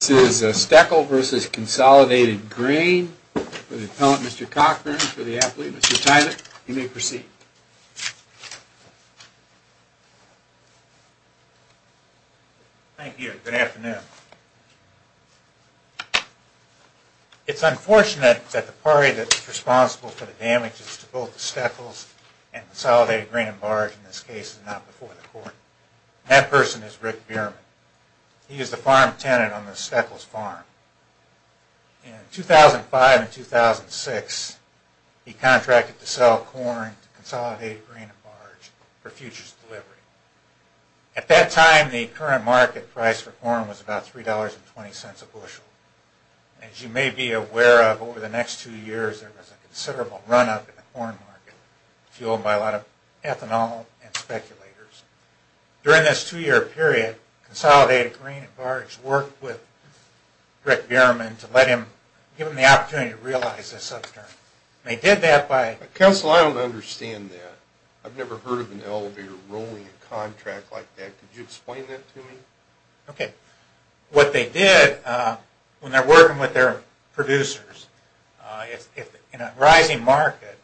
This is Steckel v. Consolidated Grain for the appellant, Mr. Cochran, and for the athlete, Mr. Tyler. You may proceed. Thank you. Good afternoon. It's unfortunate that the party that's responsible for the damages to both the Steckels and Consolidated Grain and Barge in this case is not before the court. That person is Rick Bierman. He is the farm tenant on the Steckels farm. In 2005 and 2006, he contracted to sell corn to Consolidated Grain and Barge for futures delivery. At that time, the current market price for corn was about $3.20 a bushel. As you may be aware of, over the next two years, there was a considerable run-up in the corn market, fueled by a lot of ethanol and speculators. During this two-year period, Consolidated Grain and Barge worked with Rick Bierman to give him the opportunity to realize this upturn. They did that by... Counsel, I don't understand that. I've never heard of an elevator rolling a contract like that. Could you explain that to me? Okay. What they did, when they're working with their producers, in a rising market,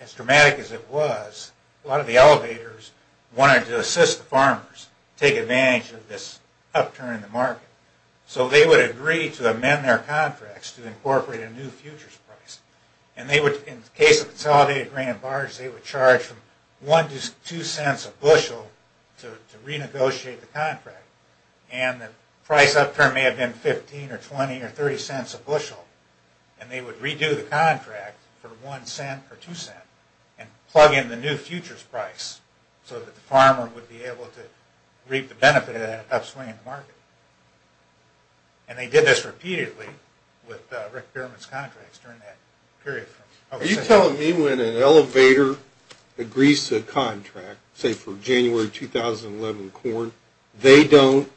as dramatic as it was, a lot of the elevators wanted to assist the farmers to take advantage of this upturn in the market. So they would agree to amend their contracts to incorporate a new futures price. In the case of Consolidated Grain and Barge, they would charge from $0.01 to $0.02 a bushel to renegotiate the contract. The price upturn may have been $0.15 or $0.20 or $0.30 a bushel. They would redo the contract for $0.01 or $0.02 and plug in the new futures price so that the farmer would be able to reap the benefit of that upswing in the market. And they did this repeatedly with Rick Berman's contracts during that period. Are you telling me when an elevator agrees to a contract, say for January 2011 corn, they don't,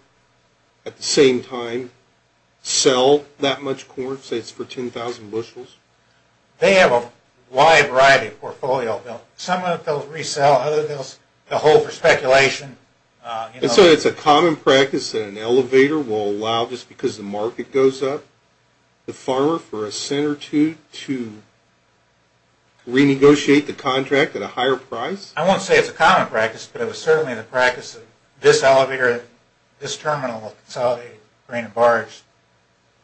at the same time, sell that much corn? Say it's for $10,000 bushels? They have a wide variety of portfolios. Some of those resell, others they'll hold for speculation. And so it's a common practice that an elevator will allow, just because the market goes up, the farmer for a cent or two to renegotiate the contract at a higher price? I won't say it's a common practice, but it was certainly the practice of this elevator, this terminal of Consolidated Grain and Barge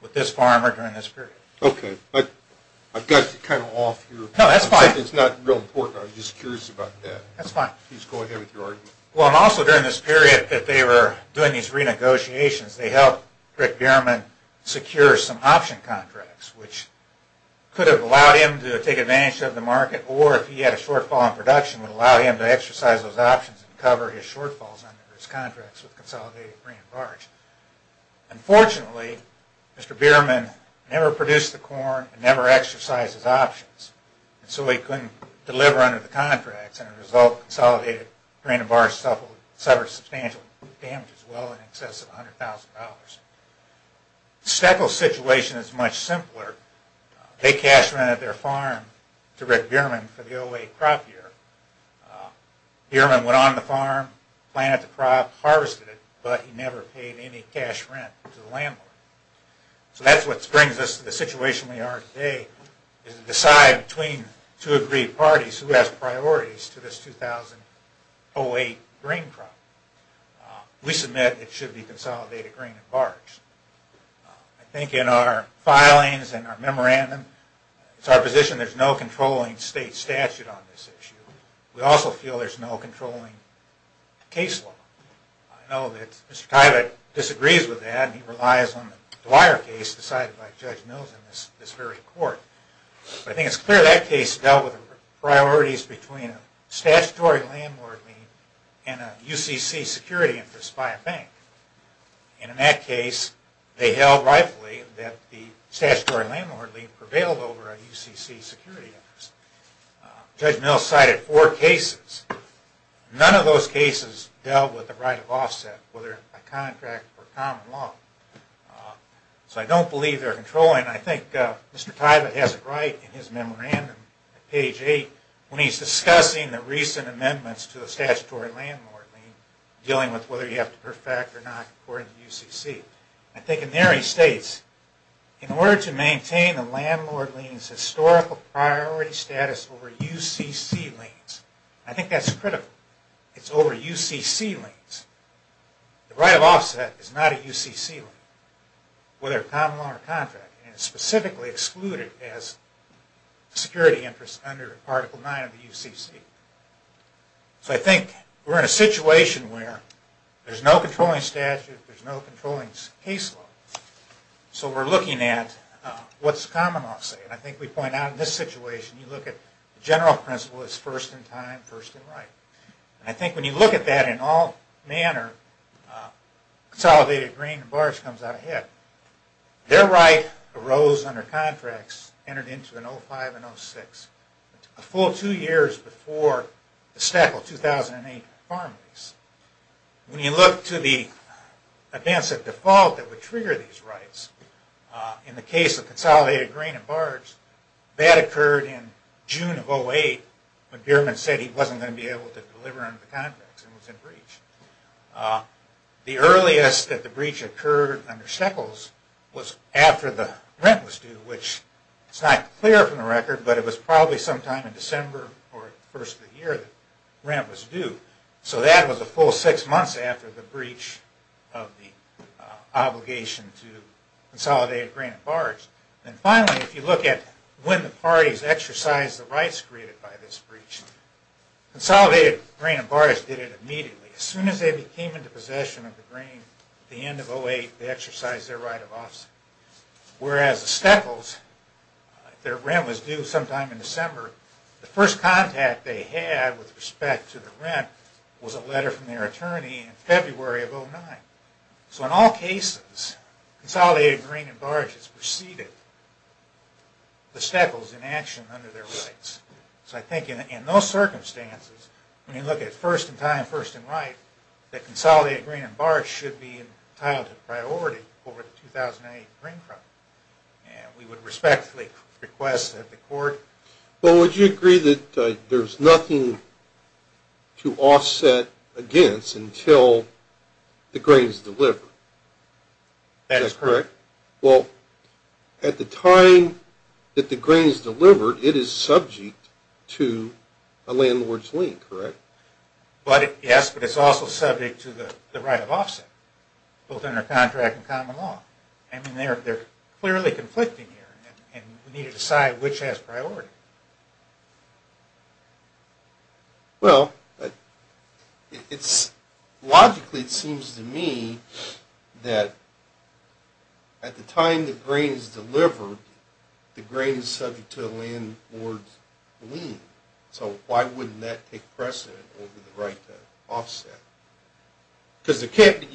with this farmer during this period. Okay. I've got you kind of off here. No, that's fine. It's not real important. I was just curious about that. That's fine. Please go ahead with your argument. Well, and also during this period, if they were doing these renegotiations, they helped Rick Berman secure some option contracts, which could have allowed him to take advantage of the market, or if he had a shortfall in production, would allow him to exercise those options and cover his shortfalls under his contracts with Consolidated Grain and Barge. Unfortunately, Mr. Berman never produced the corn and never exercised his options. So he couldn't deliver under the contracts, and as a result, Consolidated Grain and Barge suffered substantial damage as well in excess of $100,000. Steckel's situation is much simpler. They cash rented their farm to Rick Berman for the OA crop year. Berman went on the farm, planted the crop, harvested it, but he never paid any cash rent to the landlord. So that's what brings us to the situation we are today, is to decide between two agreed parties who has priorities to this 2008 grain crop. We submit it should be Consolidated Grain and Barge. I think in our filings and our memorandum, it's our position there's no controlling state statute on this issue. We also feel there's no controlling case law. I know that Mr. Tylett disagrees with that and he relies on the Dwyer case decided by Judge Mills in this very court. But I think it's clear that case dealt with priorities between a statutory landlord lien and a UCC security interest by a bank. And in that case, they held rightfully that the statutory landlord lien prevailed over a UCC security interest. Judge Mills cited four cases. None of those cases dealt with the right of offset, whether by contract or common law. So I don't believe they're controlling. I think Mr. Tylett has it right in his memorandum, page 8, when he's discussing the recent amendments to the statutory landlord lien, dealing with whether you have to perfect or not according to UCC. I think in there he states, in order to maintain the landlord lien's historical priority status over UCC liens, I think that's critical. It's over UCC liens. The right of offset is not a UCC lien, whether common law or contract. And it's specifically excluded as a security interest under Article 9 of the UCC. So I think we're in a situation where there's no controlling statute, there's no controlling case law. So we're looking at what's common law say. And I think we point out in this situation, you look at the general principle is first in time, first in right. And I think when you look at that in all manner, consolidated grain and barge comes out ahead. Their right arose under contracts, entered into in 05 and 06, a full two years before the stack of 2008 farm lease. When you look to the advance of default that would trigger these rights, in the case of consolidated grain and barge, that occurred in June of 08, when Bierman said he wasn't going to be able to deliver under the contracts and was in breach. The earliest that the breach occurred under Steckles was after the rent was due, which it's not clear from the record, but it was probably sometime in December or the first of the year that rent was due. So that was a full six months after the breach of the obligation to consolidated grain and barge. And finally, if you look at when the parties exercised the rights created by this breach, consolidated grain and barge did it immediately. As soon as they came into possession of the grain at the end of 08, they exercised their right of office. Whereas the Steckles, their rent was due sometime in December, the first contact they had with respect to the rent was a letter from their attorney in February of 09. So in all cases, consolidated grain and barge has preceded the Steckles in action under their rights. So I think in those circumstances, when you look at first in time, first in right, that consolidated grain and barge should be entitled to priority over the 2008 grain problem. And we would respectfully request that the court… Well, would you agree that there's nothing to offset against until the grain is delivered? That is correct. Well, at the time that the grain is delivered, it is subject to a landlord's lien, correct? Yes, but it's also subject to the right of offset, both under contract and common law. I mean, they're clearly conflicting here, and we need to decide which has priority. Well, logically it seems to me that at the time the grain is delivered, the grain is subject to a landlord's lien. So why wouldn't that take precedent over the right to offset? Because you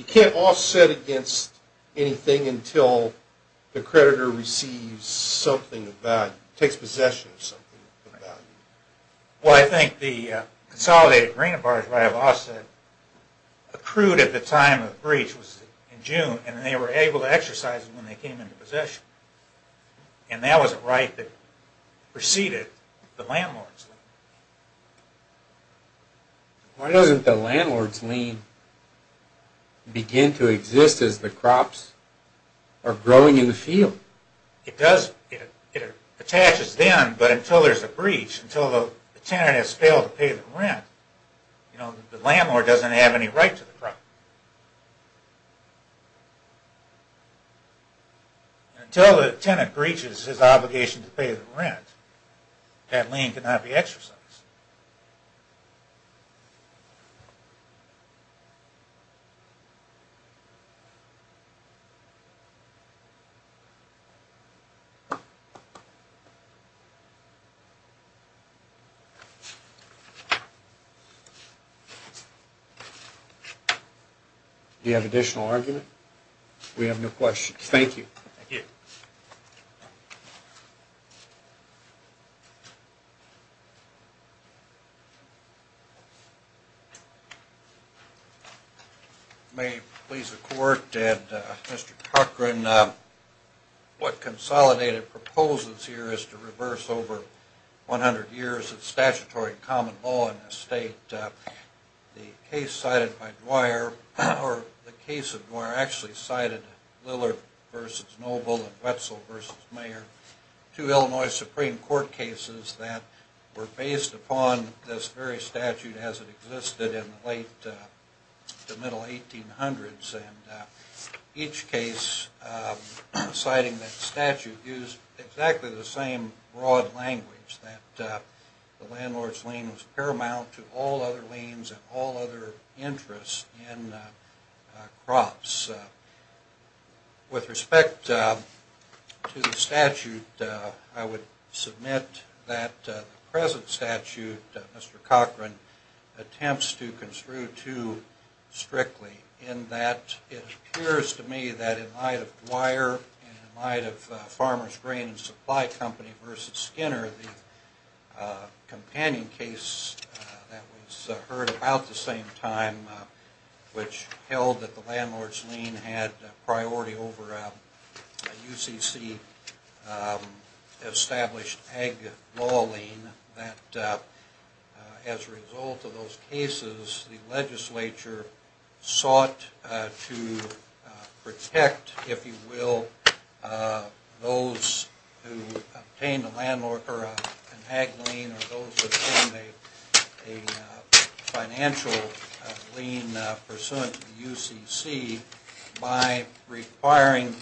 can't offset against anything until the creditor receives something of value, takes possession of something of value. Well, I think the consolidated grain and barge right of offset accrued at the time of the breach was in June, and they were able to exercise it when they came into possession. And that was a right that preceded the landlord's lien. Why doesn't the landlord's lien begin to exist as the crops are growing in the field? It attaches then, but until there's a breach, until the tenant has failed to pay the rent, the landlord doesn't have any right to the crop. Until the tenant breaches his obligation to pay the rent, that lien cannot be exercised. Do you have an additional argument? We have no questions. Thank you. Thank you. May it please the Court. Mr. Cochran, what consolidated proposes here is to reverse over 100 years of statutory common law in this state. The case cited by Dwyer, or the case of Dwyer actually cited Lillard v. Noble and Wetzel v. Mayer, two Illinois Supreme Court cases that were based upon this very statute as it existed in the late to middle 1800s. And each case citing that statute used exactly the same broad language, that the landlord's lien was paramount to all other liens and all other interests in crops. With respect to the statute, I would submit that the present statute, Mr. Cochran, attempts to construe too strictly in that it appears to me that in light of Dwyer and in light of Farmer's Grain and Supply Company v. Skinner, the companion case that was heard about the same time, which held that the landlord's lien had priority over a UCC established ag law lien, that as a result of those cases the legislature sought to protect, if you will, those who obtained a landlord or an ag lien or those who obtained a financial lien pursuant to the UCC by requiring,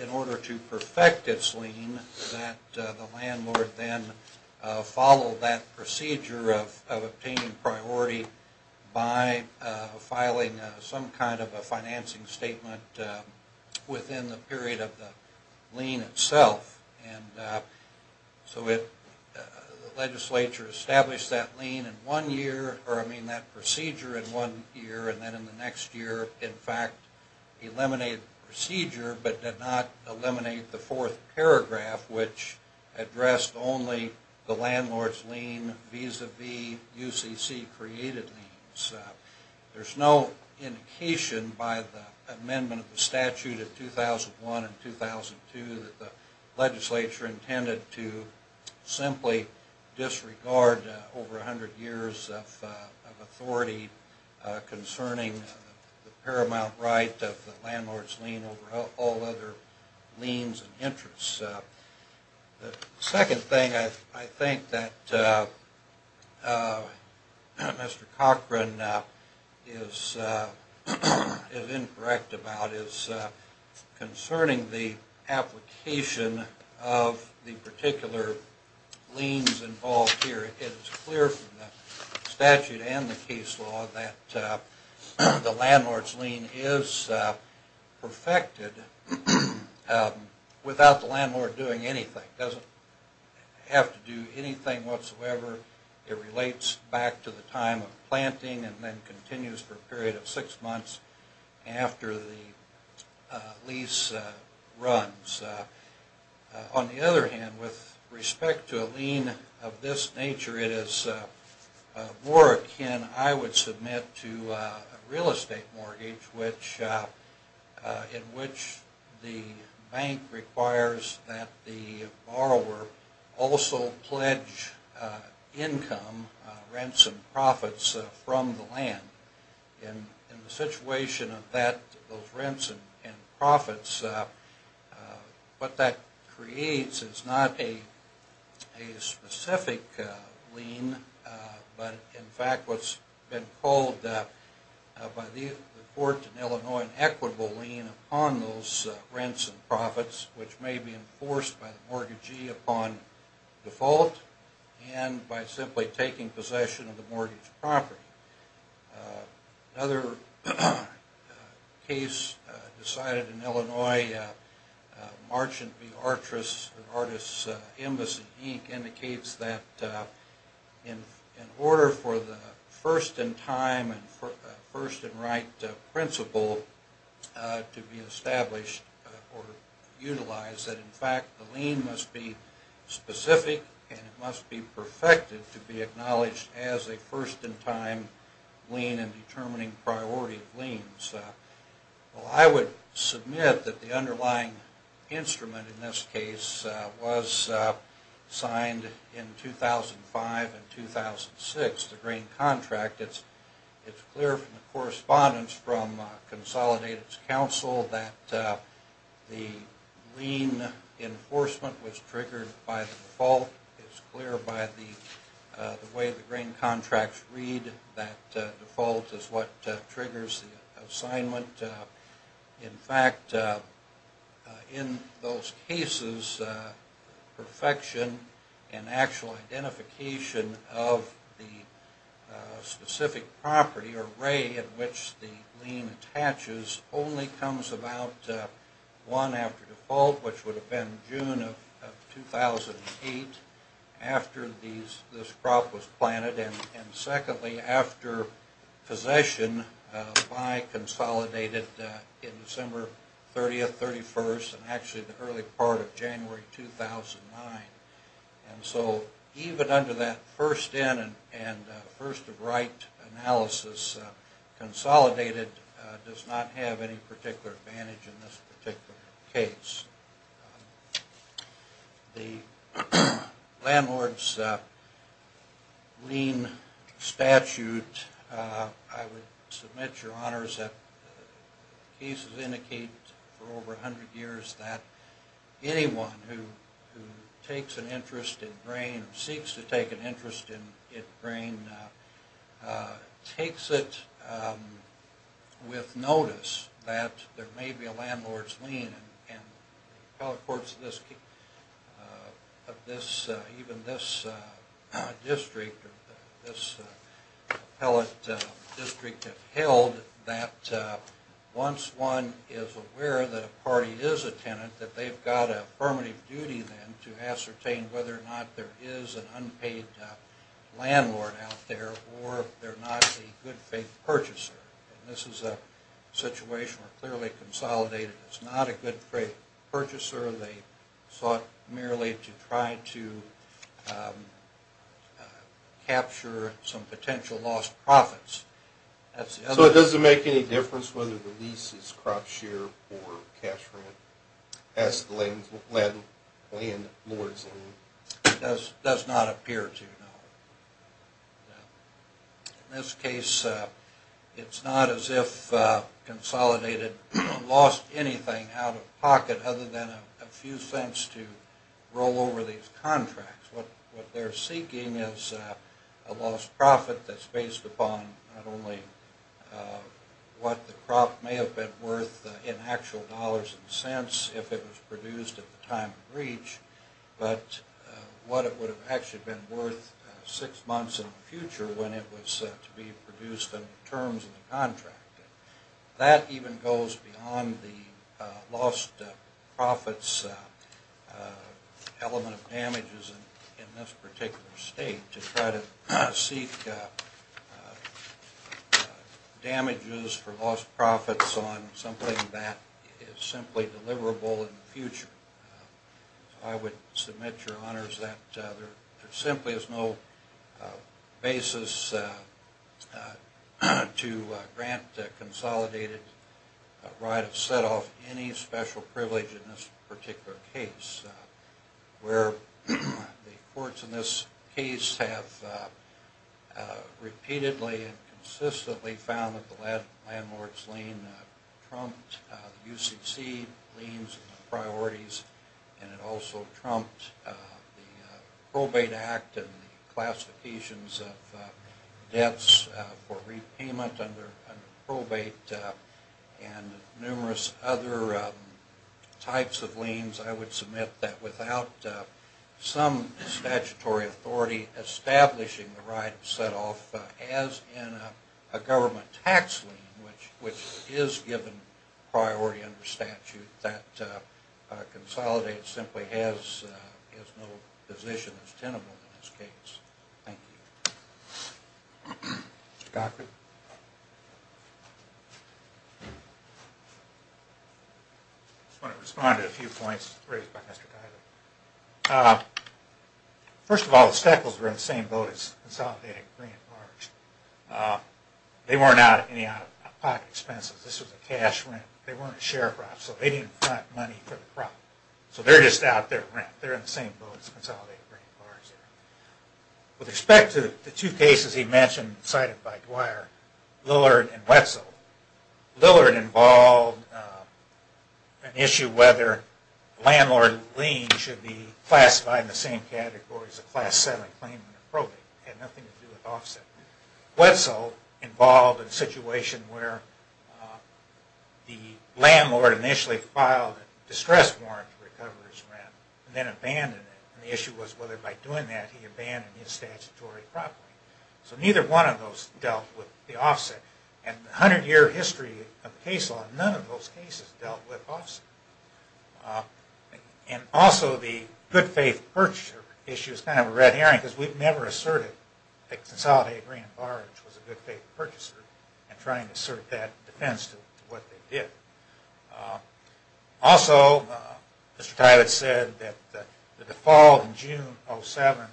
in order to perfect its lien, that the landlord then follow that procedure of obtaining priority by filing some kind of a financing statement within the period of the lien itself. And so the legislature established that lien in one year, or I mean that procedure in one year, and then in the next year in fact eliminated the procedure but did not eliminate the fourth paragraph which addressed only the landlord's lien vis-a-vis UCC created liens. There's no indication by the amendment of the statute of 2001 and 2002 that the legislature intended to the paramount right of the landlord's lien over all other liens and interests. The second thing I think that Mr. Cochran is incorrect about is concerning the application of the particular liens involved here. It is clear from the statute and the case law that the landlord's lien is perfected without the landlord doing anything. It doesn't have to do anything whatsoever. It relates back to the time of planting and then continues for a period of six months after the lease runs. On the other hand, with respect to a lien of this nature, it is more akin, I would submit, to a real estate mortgage in which the bank requires that the borrower also pledge income, rents and profits, from the land. In the situation of those rents and profits, what that creates is not a specific lien but in fact what's been called by the court in Illinois an equitable lien upon those rents and profits which may be enforced by the mortgagee upon default and by simply taking possession of the mortgage property. Another case decided in Illinois, Marchant v. Artress, Artists' Embassy, Inc. indicates that in order for the first in time and first in right principle to be established or utilized, that in fact the lien must be specific and it must be perfected to be acknowledged as a first in time lien in determining priority liens. Well, I would submit that the underlying instrument in this case was signed in 2005 and 2006. It's clear from the correspondence from Consolidated's counsel that the lien enforcement was triggered by the default. It's clear by the way the grain contracts read that default is what triggers the assignment. In fact, in those cases, perfection and actual identification of the specific property or rate at which the lien attaches only comes about one after default which would have been June of 2008 after this crop was planted and secondly after possession by Consolidated in December 30th, 31st and actually the early part of January 2009. And so even under that first in and first of right analysis, Consolidated does not have any particular advantage in this particular case. The landlord's lien statute, I would submit your honors that cases indicate for over 100 years that anyone who takes an interest in grain takes it with notice that there may be a landlord's lien and the appellate courts of even this district or this appellate district have held that once one is aware that a party is a tenant that they've got affirmative duty then to ascertain whether or not there is an unpaid landlord out there or if they're not a good faith purchaser. And this is a situation where clearly Consolidated is not a good faith purchaser. They sought merely to try to capture some potential lost profits. So it doesn't make any difference whether the lease is crop share or cash rent as the landlord's lien? It does not appear to, no. In this case it's not as if Consolidated lost anything out of pocket other than a few cents to roll over these contracts. What they're seeking is a lost profit that's based upon not only what the crop may have been worth in actual dollars and cents if it was produced at the time of breach, but what it would have actually been worth six months in the future when it was to be produced under the terms of the contract. That even goes beyond the lost profits element of damages in this particular state to try to seek damages for lost profits on something that is simply deliverable in the future. I would submit, Your Honors, that there simply is no basis to grant Consolidated a right to set off any special privilege in this particular case. Where the courts in this case have repeatedly and consistently found that the landlord's lien trumped UCC liens and priorities, and it also trumped the Probate Act and classifications of debts for repayment under probate and numerous other types of liens, I would submit that without some statutory authority establishing the right to set off as in a government tax lien, which is given priority under statute, that Consolidated simply has no position as tenable in this case. Thank you. I just want to respond to a few points. First of all, the Stackles were in the same boat as Consolidated Green and Large. They weren't out at any out-of-pocket expenses. This was a cash rent. They weren't a share crop, so they didn't front money for the crop. So they're just out there at rent. They're in the same boat as Consolidated Green and Large. With respect to the two cases he mentioned cited by Dwyer, Lillard and Wetzel, Lillard involved an issue whether a landlord lien should be classified in the same category as a Class VII claimant or probate. It had nothing to do with offset. Wetzel involved a situation where the landlord initially filed a distress warrant for a coverage rent and then abandoned it. The issue was whether by doing that he abandoned his statutory property. So neither one of those dealt with the offset. In the 100-year history of case law, none of those cases dealt with offset. Also, the good-faith purchaser issue is kind of a red herring because we've never asserted that Consolidated Green and Large was a good-faith purchaser in trying to assert that defense to what they did. Also, Mr. Tylett said that the default in June of 2007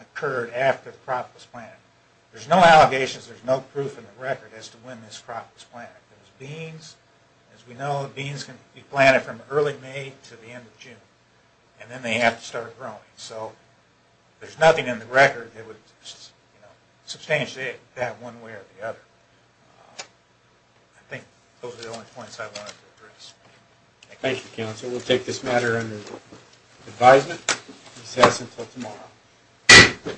occurred after the crop was planted. There's no allegations, there's no proof in the record as to when this crop was planted. There's beans. As we know, beans can be planted from early May to the end of June. And then they have to start growing. So there's nothing in the record that would substantiate that one way or the other. I think those are the only points I wanted to address. Thank you, counsel. We'll take this matter under advisement. This has until tomorrow.